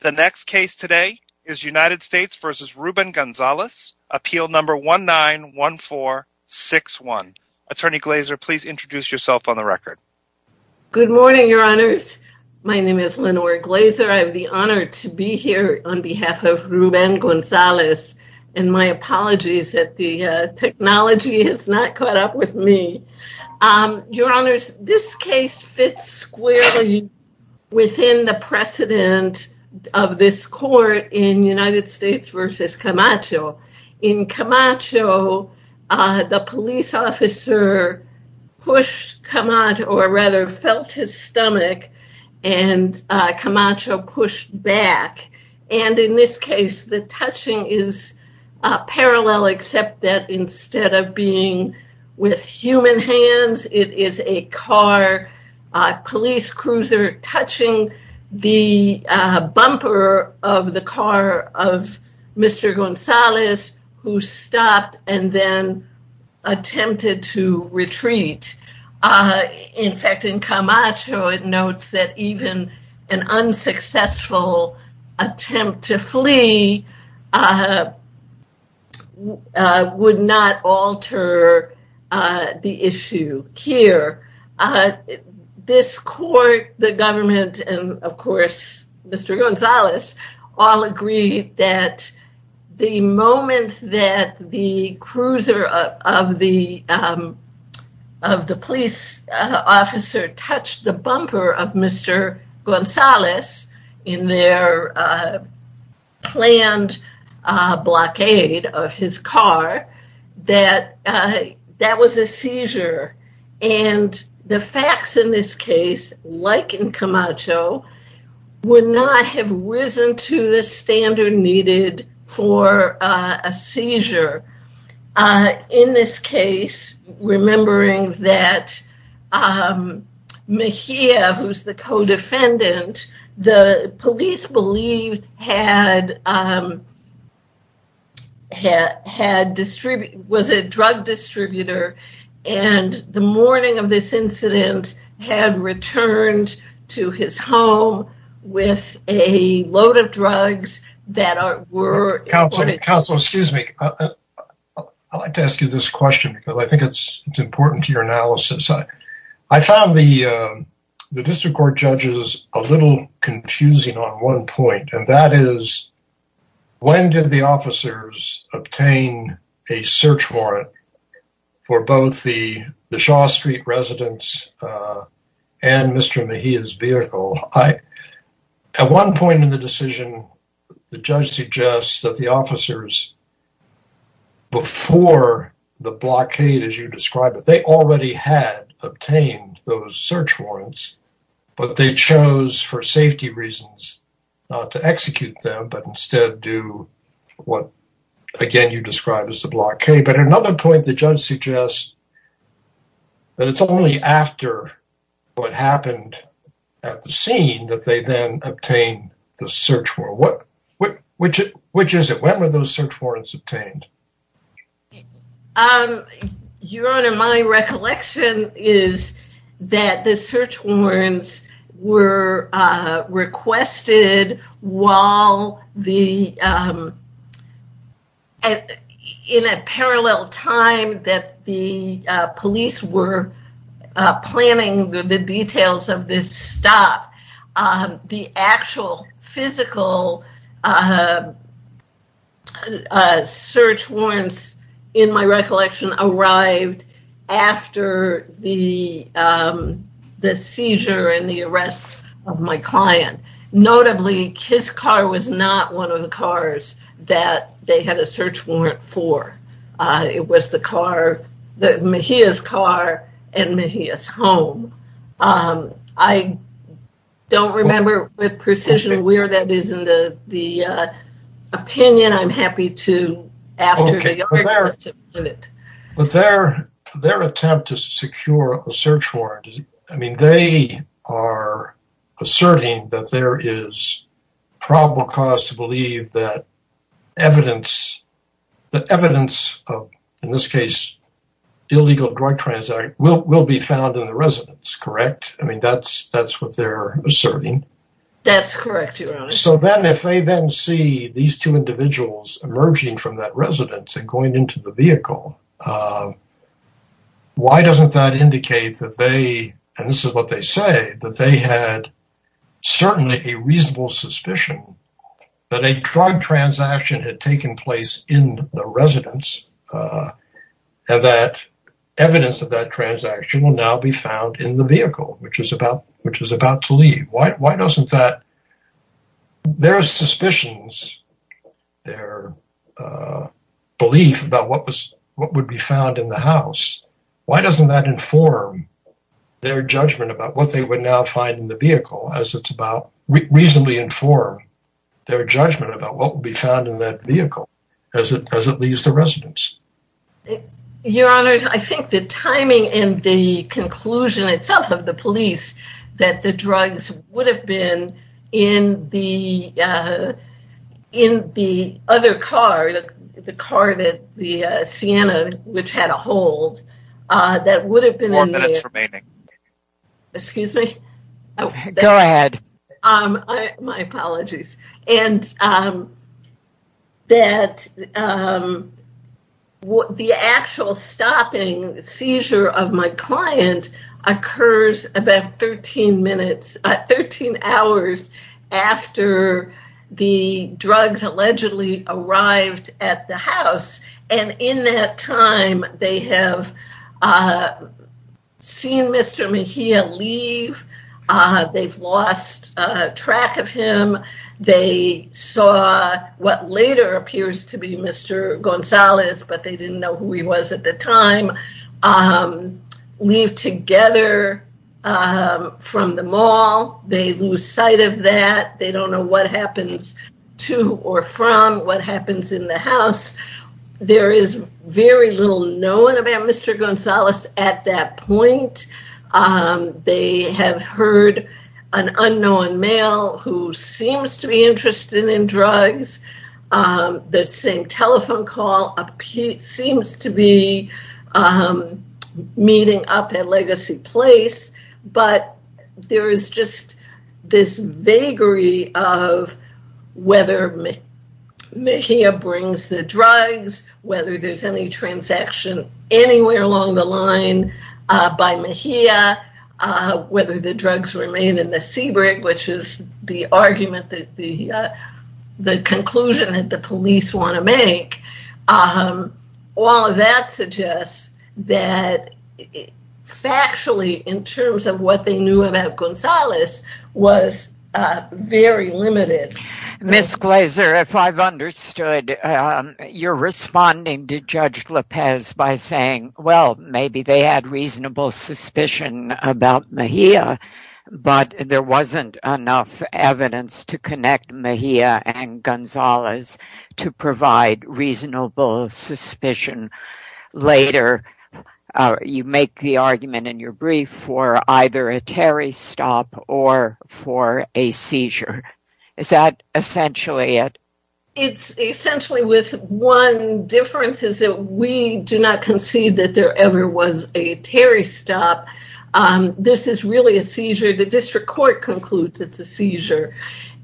The next case today is United States v. Ruben Gonzalez, appeal number 191461. Attorney Glazer, please introduce yourself on the record. Good morning, your honors. My name is Lenore Glazer. I have the honor to be here on behalf of Ruben Gonzalez, and my apologies that the technology has not caught up with me. Your honors, this case fits squarely within the precedent of this court in United States v. Camacho. In Camacho, the police officer pushed Camacho or rather felt his stomach and Camacho pushed back. And in this case, the touching is parallel except that instead of being with human hands, it is a car, police cruiser touching the bumper of the car of Mr. Gonzalez, who stopped and then attempted to retreat. In fact, in Camacho, it notes that even an unsuccessful attempt to flee would not alter the issue here. This court, the government, and of course, Mr. Gonzalez, all agreed that the moment that the cruiser of the police officer touched the bumper of Mr. Gonzalez in their planned blockade of his car, that that was a seizure. And the facts in this case, like in Camacho, would not have risen to the standard needed for a seizure. In this case, remembering that Mejia, who's the co-defendant, the police believed was a drug distributor. And the morning of this incident had returned to his home with a load of drugs that were- Counselor, excuse me. I'd like to ask you this question because I think it's important to your analysis. I found the district court judges a little confusing on one point, and that is, when did the officers obtain a search warrant for both the Shaw Street residence and Mr. Mejia's vehicle? At one point in the decision, the judge suggests that the officers before the blockade, as you describe it, they already had obtained those search warrants, but they chose for safety reasons not to execute them, but instead do what, again, you describe as the blockade. But at another point, the judge suggests that it's only after what happened at the scene that they then obtain the search warrant. Which is it? When were those search warrants obtained? Your Honor, my recollection is that the search warrants were requested while the- In a parallel time that the police were planning the details of this stop, the actual physical search warrants, in my recollection, arrived after the seizure and the arrest of my client. Notably, his car was not one of the cars that they had a search warrant for. It was the car, Mejia's car, and Mejia's home. I don't remember with precision where that is in the opinion. I'm happy to- Okay. But their attempt to secure a search warrant, I mean, they are asserting that there is probable cause to believe that evidence, that evidence of, in this case, illegal drug transaction will be found in the residence, correct? I mean, that's what they're asserting. That's correct, Your Honor. So then if they then see these two individuals emerging from that residence and going into the vehicle, why doesn't that indicate that they, and this is what they say, that they had certainly a reasonable suspicion that a drug transaction had taken place in the residence, that evidence of that transaction will now be found in the vehicle, which is about to leave. Why doesn't that, their suspicions, their belief about what would be found in the house, why doesn't that inform their judgment about what they would now find in the vehicle as it's about, reasonably inform their judgment about what would be found in that vehicle as it leaves the residence? Your Honor, I think the timing and the conclusion itself of the police that the drugs would have been in the other car, the car that, the Sienna, which had a hold, that would have been in the- More minutes remaining. Excuse me? Go ahead. My apologies. And that the actual stopping seizure of my client occurs about 13 minutes hours after the drugs allegedly arrived at the house. And in that time, they have seen Mr. Mejia leave. They've lost track of him. They saw what later appears to be Mr. Gonzalez, but they didn't know who he was at the time. Leave together from the mall. They lose sight of that. They don't know what happens to or from what happens in the house. There is very little known about Mr. Gonzalez at that point. They have heard an unknown male who seems to be interested in drugs. The same telephone call seems to be meeting up at Legacy Place, but there is just this vagary of whether Mejia brings the drugs, whether there's any transaction anywhere along the line by Mejia, whether the drugs remain in Seabrook, which is the argument, the conclusion that the police want to make. All of that suggests that factually, in terms of what they knew about Gonzalez, was very limited. Ms. Glazer, if I've understood, you're responding to Judge Lopez by saying, maybe they had reasonable suspicion about Mejia, but there wasn't enough evidence to connect Mejia and Gonzalez to provide reasonable suspicion. Later, you make the argument in your brief for either a Terry stop or for a seizure. Is that essentially it? It's essentially with one difference is that we do not conceive that there ever was a Terry stop. This is really a seizure. The district court concludes it's a seizure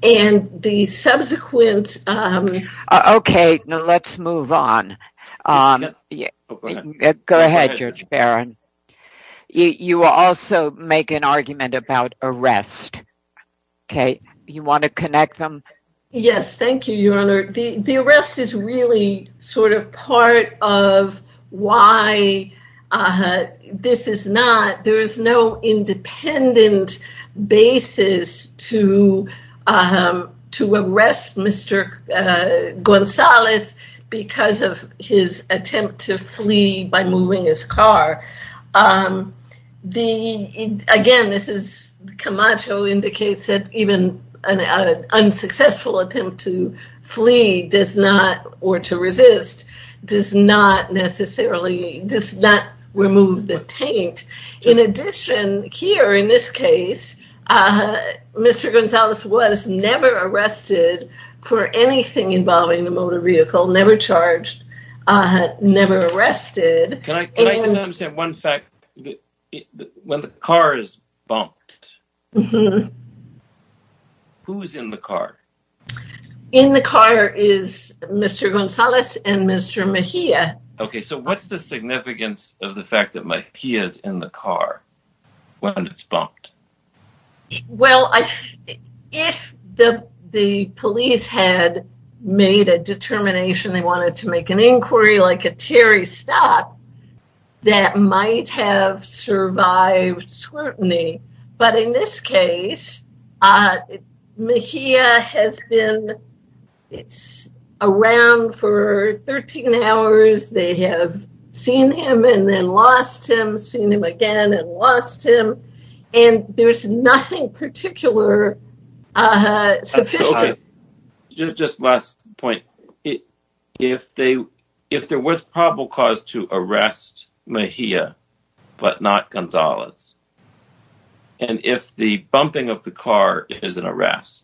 and the subsequent... Okay, now let's move on. Go ahead, Judge Barron. You also make an argument about arrest. Okay. You want to connect them? Yes. Thank you, Your Honor. The arrest is really sort of part of why this is not... There is no independent basis to arrest Mr. Gonzalez because of his attempt to flee by moving his car. Again, Camacho indicates that even an unsuccessful attempt to flee or to resist does not remove the taint. In addition, here in this case, Mr. Gonzalez was never arrested for anything involving the motor vehicle, never charged, never arrested. Can I just add one fact? When the car is bumped, who's in the car? In the car is Mr. Gonzalez and Mr. Mejia. Okay, so what's the significance of the Well, if the police had made a determination, they wanted to make an inquiry like a Terry stop, that might have survived scrutiny. But in this case, Mejia has been around for 13 hours. They have seen him and then lost him, seen him again and lost him. And there's nothing particular. Just last point. If there was probable cause to arrest Mejia, but not Gonzalez, and if the bumping of the car is an arrest,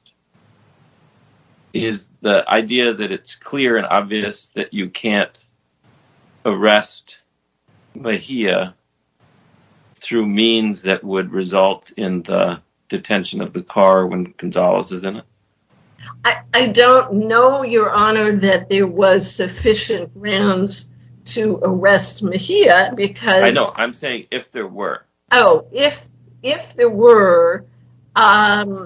is the idea that it's clear and obvious that you can't arrest Mejia through means that would result in the detention of the car when Gonzalez is in it? I don't know, Your Honor, that there was sufficient grounds to arrest Mejia because I know I'm saying if there were Oh, if there were, then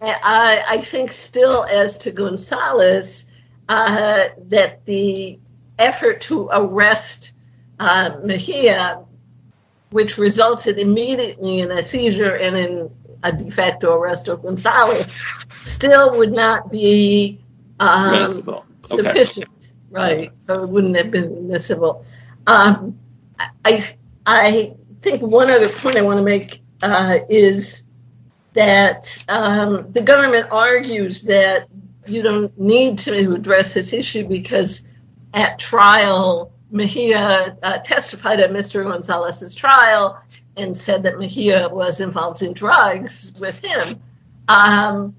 I think still as to Gonzalez, that the effort to arrest Mejia, which resulted immediately in a seizure and in a de facto arrest of Gonzalez, still would not be sufficient, right? So it wouldn't have been admissible. I think one other point I want to make is that the government argues that you don't need to address this issue because at trial, Mejia testified at Mr. Gonzalez's trial and said Mejia was involved in drugs with him. I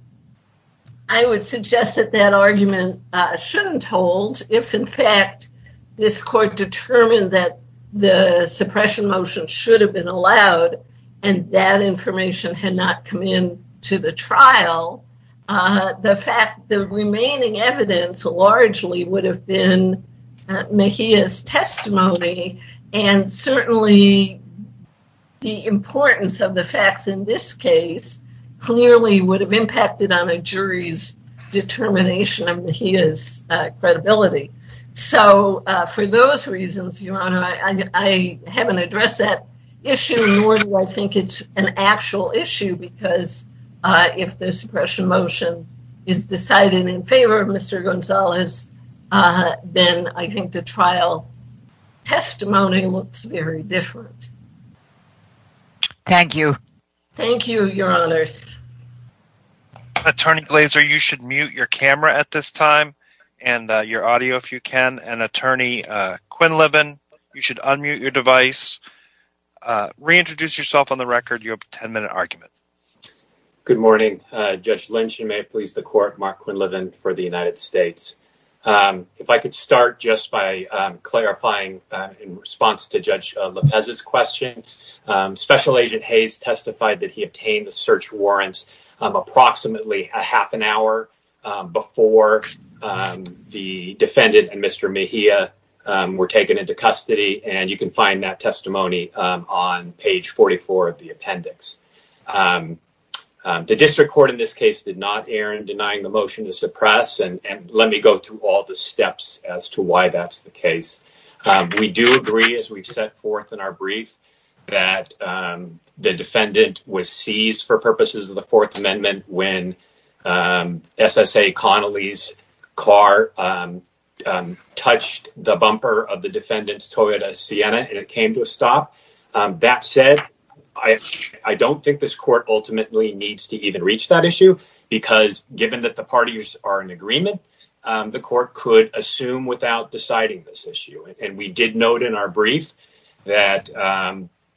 would suggest that that argument shouldn't hold if, in fact, this court determined that the suppression motion should have been allowed and that information had not come in to the trial. The remaining evidence largely would have been Mejia's testimony and certainly the importance of the facts in this case clearly would have impacted on a jury's determination of Mejia's credibility. So for those reasons, Your Honor, I haven't addressed that issue nor do I think it's an actual issue because if the suppression motion is decided in favor of Mr. Gonzalez, then I think the trial testimony looks very different. Thank you. Thank you, Your Honors. Attorney Glaser, you should mute your camera at this time and your audio if you can. And Attorney Quinlivan, you should unmute your device. Reintroduce yourself on the record. You have a 10-minute argument. Good morning, Judge Lynch. You may please the court. Mark Quinlivan for the United States. If I could start just by clarifying in response to Judge Lopez's question, Special Agent Hayes testified that he obtained the search warrants approximately a half an hour before the defendant and Mr. Mejia were taken into custody, and you can find that testimony on page 44 of the appendix. The district court in this case did not deny the motion to suppress and let me go through all the steps as to why that's the case. We do agree as we set forth in our brief that the defendant was seized for purposes of the Fourth Amendment when SSA Connolly's car touched the bumper of the defendant's Toyota Sienna and it came to a stop. That said, I don't think this court ultimately needs to even reach that issue because given that the parties are in agreement, the court could assume without deciding this issue. And we did note in our brief that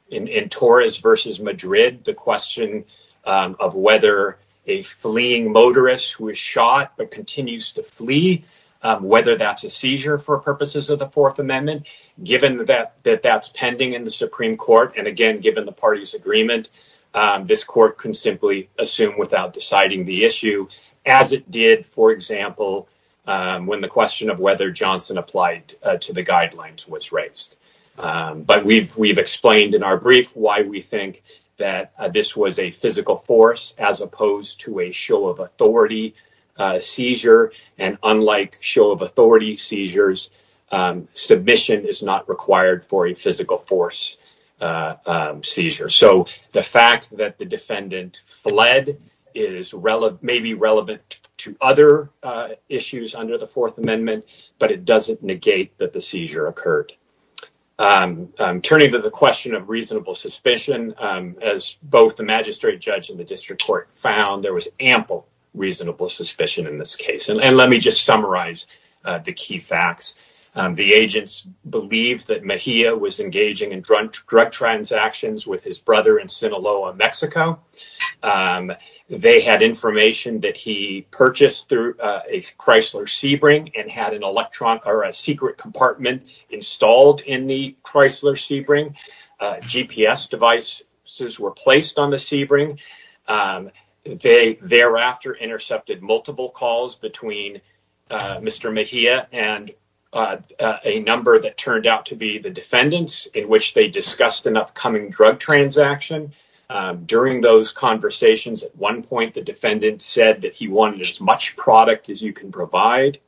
in Torres v. Madrid, the question of whether a fleeing motorist was shot but continues to flee, whether that's a seizure for purposes of the Fourth Amendment, given that that's pending in the Supreme Court, and again, given the party's agreement, this court can simply assume without deciding the issue as it did, for example, when the question of whether Johnson applied to the guidelines was raised. But we've explained in our brief why we think that this was a physical force as opposed to a show of authority seizure, and unlike show authority seizures, submission is not required for a physical force seizure. So the fact that the defendant fled may be relevant to other issues under the Fourth Amendment, but it doesn't negate that the seizure occurred. Turning to the question of reasonable suspicion, as both the magistrate judge and the district court found, there was ample reasonable suspicion in this case. And let me just summarize the key facts. The agents believed that Mejia was engaging in drug transactions with his brother in Sinaloa, Mexico. They had information that he purchased through a Chrysler Sebring and had a secret compartment installed in the Chrysler Sebring. GPS devices were placed on the Sebring. They thereafter intercepted multiple calls between Mr. Mejia and a number that turned out to be the defendant's, in which they discussed an upcoming drug transaction. During those conversations, at one point, the defendant said that he wanted as much product as you can provide.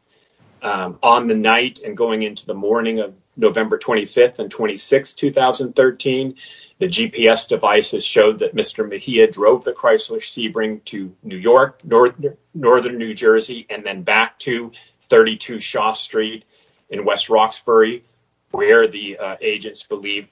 On the night and going into the morning of November 25th and 26th, 2013, the GPS devices showed that Mr. Mejia drove the Chrysler Sebring to New York, Northern New Jersey, and then back to 32 Shaw Street in West Roxbury, which the agents believed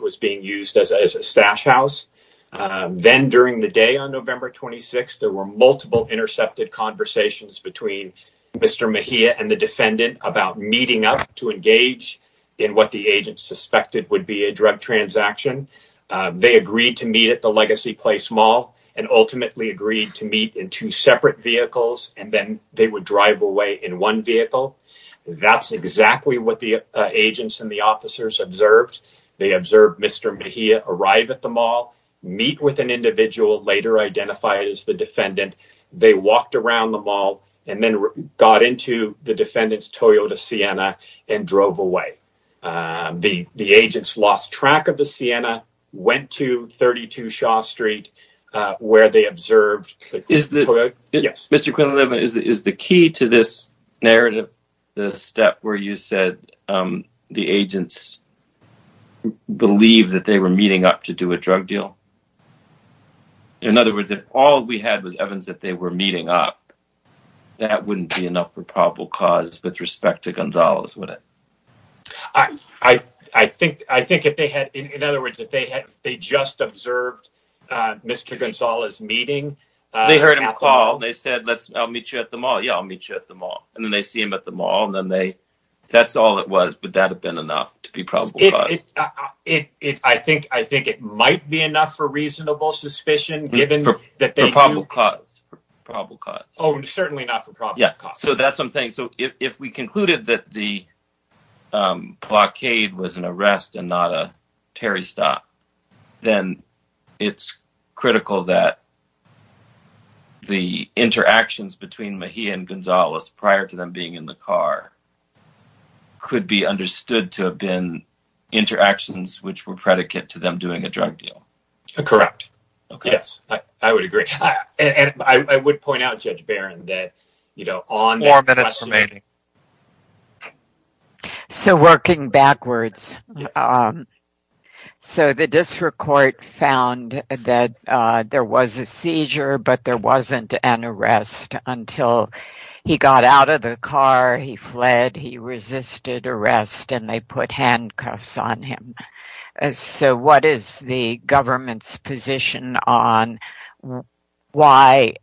was being used as a stash house. Then during the day on November 26th, there were multiple intercepted conversations between Mr. Mejia and the defendant about meeting up to engage in what the agents suspected would be a drug transaction. They agreed to meet at the Legacy Place Mall and ultimately agreed to meet in two separate vehicles and then they would drive away in one vehicle. That's exactly what the agents and the officers observed. They observed Mr. Mejia arrive at the mall, meet with an individual, later identified as the defendant. They walked around the mall and then got into the defendant's Sienna and drove away. The agents lost track of the Sienna, went to 32 Shaw Street, where they observed. Mr. Quinlan-Evans, is the key to this narrative the step where you said the agents believed that they were meeting up to do a drug deal? In other words, if all we had was evidence that they were meeting up, that wouldn't be enough for probable cause with respect to Gonzalez, would it? In other words, if they just observed Mr. Gonzalez meeting at the mall... They heard him call and they said, I'll meet you at the mall. Yeah, I'll meet you at the mall. And then they see him at the mall and then that's all it was, but that had been enough to be probable cause. I think it might be enough for reasonable suspicion given that they... For probable cause. Probable cause. Oh, certainly not for probable cause. So that's something. So if we concluded that the blockade was an arrest and not a Terry stop, then it's critical that the interactions between Mejia and Gonzalez prior to them being in the car could be understood to have been interactions which were predicate to them doing a drug deal. Correct. Yes, I would agree. And I would point out, Judge Barron, that... Four minutes remaining. So working backwards. So the district court found that there was a seizure, but there wasn't an arrest until he got out of the car, he fled, he resisted arrest, and they put handcuffs on him. So what is the government's position on why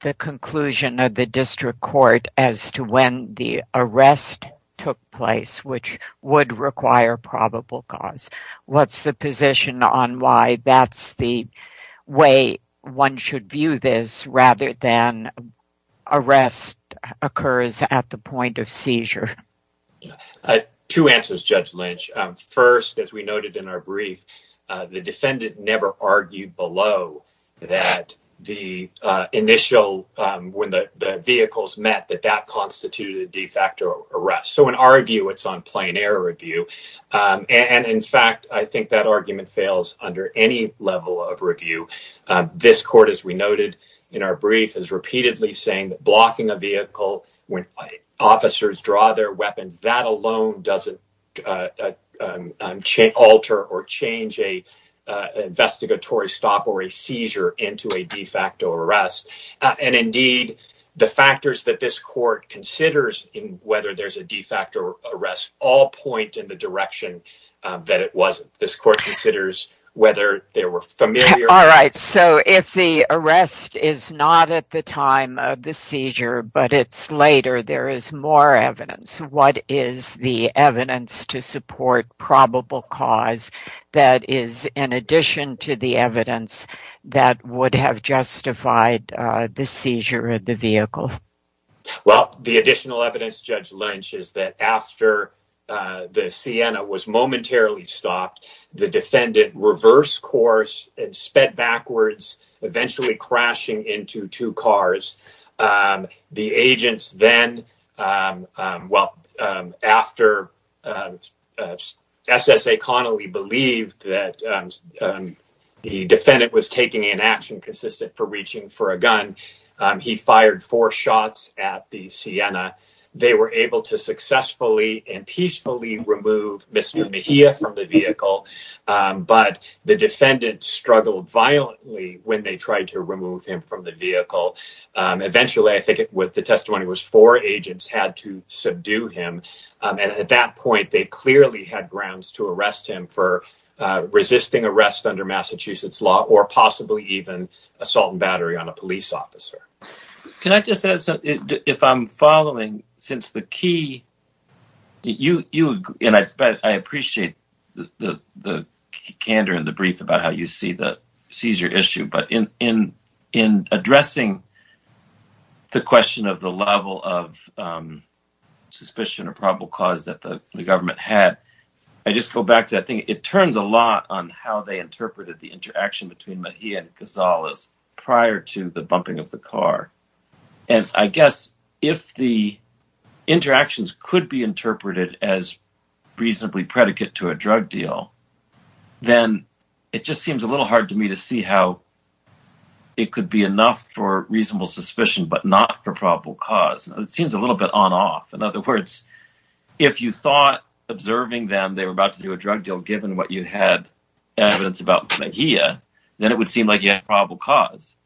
the conclusion of the district court as to when the arrest took place, which would require probable cause? What's the position on why that's the way one should view this rather than arrest occurs at the point of seizure? I have two answers, Judge Lynch. First, as we noted in our brief, the defendant never argued below that the initial... When the vehicles met, that that constituted a de facto arrest. So in our view, it's on plain error review. And in fact, I think that argument fails under any level of review. This court, as we noted in our brief, is repeatedly saying that blocking a vehicle when officers draw their weapons, that alone doesn't alter or change a investigatory stop or a seizure into a de facto arrest. And indeed, the factors that this court considers in whether there's a de facto arrest all point in the direction that it wasn't. This court considers whether there were familiar... All right. So if the arrest is not at the time of the seizure, but it's later, there is more evidence. What is the evidence to support probable cause that is, in addition to the evidence that would have justified the seizure of the vehicle? Well, the additional evidence, Judge Lynch, is that after the Sienna was momentarily stopped, the defendant reversed course and sped backwards, eventually crashing into two cars. The agents then... Well, after S. S. A. Connolly believed that the defendant was taking an action consistent for reaching for a gun, he fired four shots at the Sienna. They were able to but the defendant struggled violently when they tried to remove him from the vehicle. Eventually, I think with the testimony was four agents had to subdue him. And at that point, they clearly had grounds to arrest him for resisting arrest under Massachusetts law or possibly even assault and battery on a police officer. Can I just add something? If I'm the candor in the brief about how you see the seizure issue, but in addressing the question of the level of suspicion of probable cause that the government had, I just go back to that thing. It turns a lot on how they interpreted the interaction between Mejia and Gonzalez prior to the bumping of the car. And I guess if the interactions could be interpreted as predicate to a drug deal, then it just seems a little hard to me to see how it could be enough for reasonable suspicion, but not for probable cause. It seems a little bit on off. In other words, if you thought observing them, they were about to do a drug deal, given what you had evidence about Mejia, then it would seem like you had probable cause.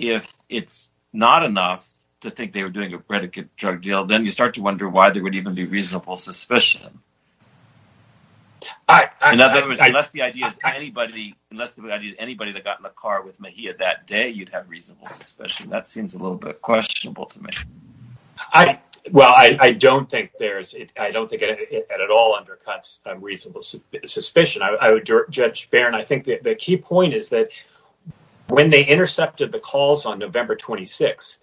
If it's not enough to think they were doing a predicate drug deal, then you start to wonder why there would even be reasonable suspicion. In other words, unless the idea is anybody that got in the car with Mejia that day, you'd have reasonable suspicion. That seems a little bit questionable to me. Well, I don't think it at all undercuts reasonable suspicion. Judge Barron, I think the key point is that when they intercepted the calls on November 26,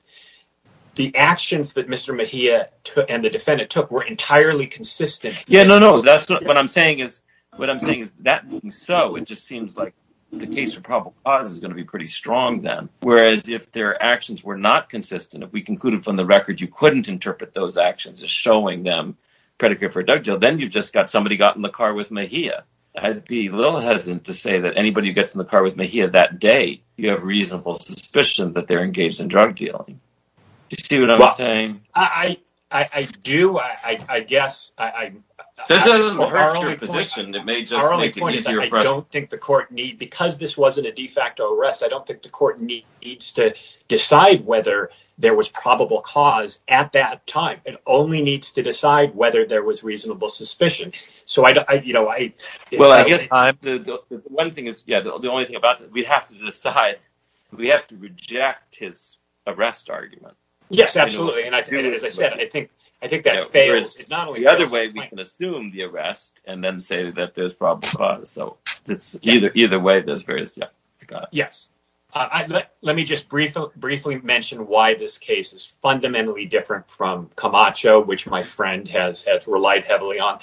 the actions that Mr. Mejia and the defendant took were entirely consistent. Yeah, no, no. What I'm saying is that being so, it just seems like the case for probable cause is going to be pretty strong then. Whereas if their actions were not consistent, if we concluded from the record you couldn't interpret those actions as showing them predicate for a drug deal, then you've just got somebody got in the car with Mejia. I'd be a little hesitant to say that anybody who gets in the car with Mejia that day, you have reasonable suspicion that they're doing. Do you see what I'm saying? I do, I guess. That doesn't hurt your position, it may just make it easier for us. Our only point is that I don't think the court need, because this wasn't a de facto arrest, I don't think the court needs to decide whether there was probable cause at that time. It only needs to decide whether there was reasonable suspicion. Well, I guess one thing is, yeah, the only thing about it, we'd have to decide, we have to reject his arrest argument. Yes, absolutely, and as I said, I think that fails. The other way we can assume the arrest and then say that there's probable cause, so it's either way, there's various, yeah. Yes, let me just briefly mention why this case is fundamentally different from Camacho, which my friend has relied heavily on.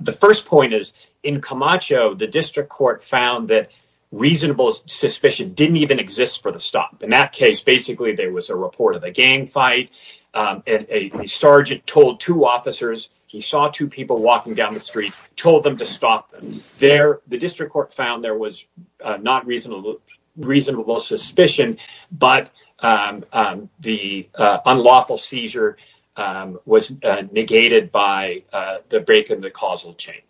The first point is, in Camacho, the district court found that reasonable suspicion didn't even exist for the stop. In that case, basically, there was a report of a gang fight, a sergeant told two officers, he saw two people walking down the street, told them to stop them. The district court found there was not reasonable suspicion, but the unlawful seizure was negated by the break chain.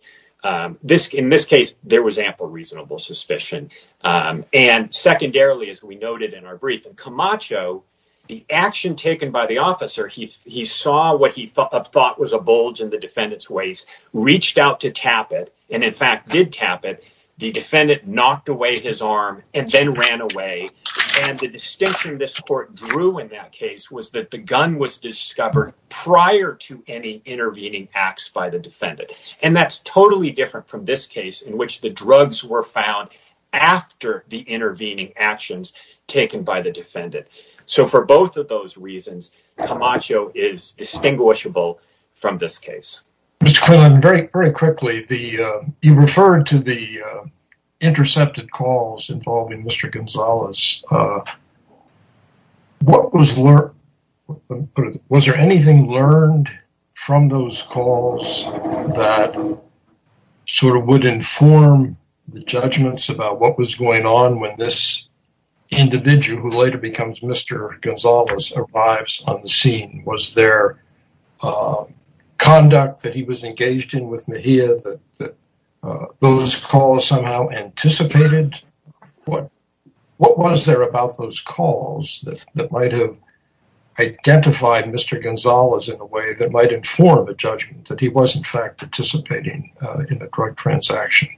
In this case, there was ample reasonable suspicion, and secondarily, as we noted in our brief, in Camacho, the action taken by the officer, he saw what he thought was a bulge in the defendant's waist, reached out to tap it, and in fact did tap it. The defendant knocked away his arm and then ran away, and the distinction this court drew in that case was that the gun was totally different from this case, in which the drugs were found after the intervening actions taken by the defendant. So for both of those reasons, Camacho is distinguishable from this case. Mr. Quinlan, very quickly, you referred to the intercepted calls involving Mr. Gonzalez. Was there anything learned from those calls that sort of would inform the judgments about what was going on when this individual who later becomes Mr. Gonzalez arrives on the scene? Was there conduct that he was engaged in with Mejia that those calls somehow anticipated? What was there about those calls that might have identified Mr. Gonzalez in a way that might inform a judgment that he was in fact participating in the drug transaction?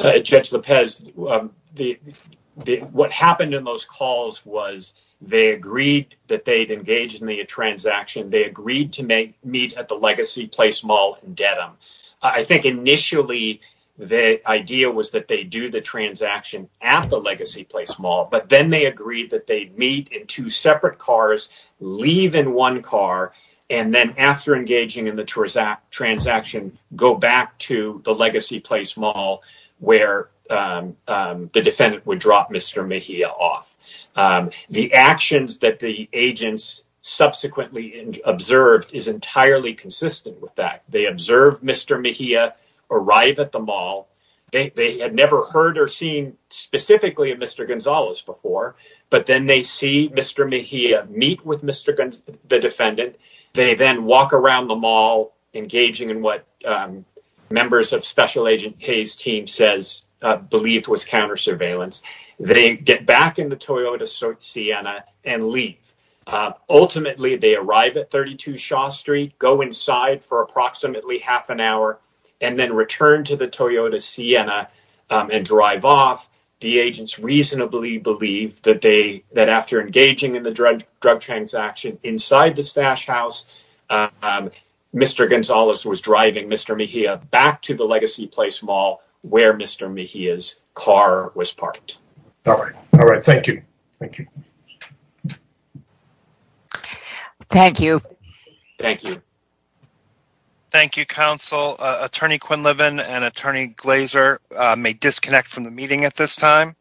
Judge Lopez, what happened in those calls was they agreed that they'd engaged in the transaction. They agreed to meet at the Legacy Place Mall in Dedham. I think initially, the idea was that they'd do the transaction at the Legacy Place Mall, but then they agreed that they'd meet in two separate cars, leave in one car, and then after engaging in the transaction, go back to the Legacy Place Mall where the defendant would drop Mr. Mejia off. The actions that the agents subsequently observed is entirely consistent with that. They observed Mr. Mejia arrive at the mall. They had never heard or seen specifically Mr. Gonzalez before, but then they see Mr. Mejia meet with Mr. Gonzalez, the defendant. They then walk around the mall engaging in what members of Special Agent Hayes' team believed was counter-surveillance. They get back in the Toyota Sienna and leave. Ultimately, they arrive at 32 Shaw Street, go inside for approximately half an hour, and then return to the Toyota Sienna and drive off. The agents reasonably believe that after engaging in the drug transaction inside the stash house, Mr. Gonzalez was driving Mr. Mejia back to the Legacy Place Mall where Mr. Mejia's car was parked. All right. All right. Thank you. Thank you. Thank you. Thank you. Thank you, Council. Attorney Quinlivan and Attorney Glazer may disconnect from the meeting at this time.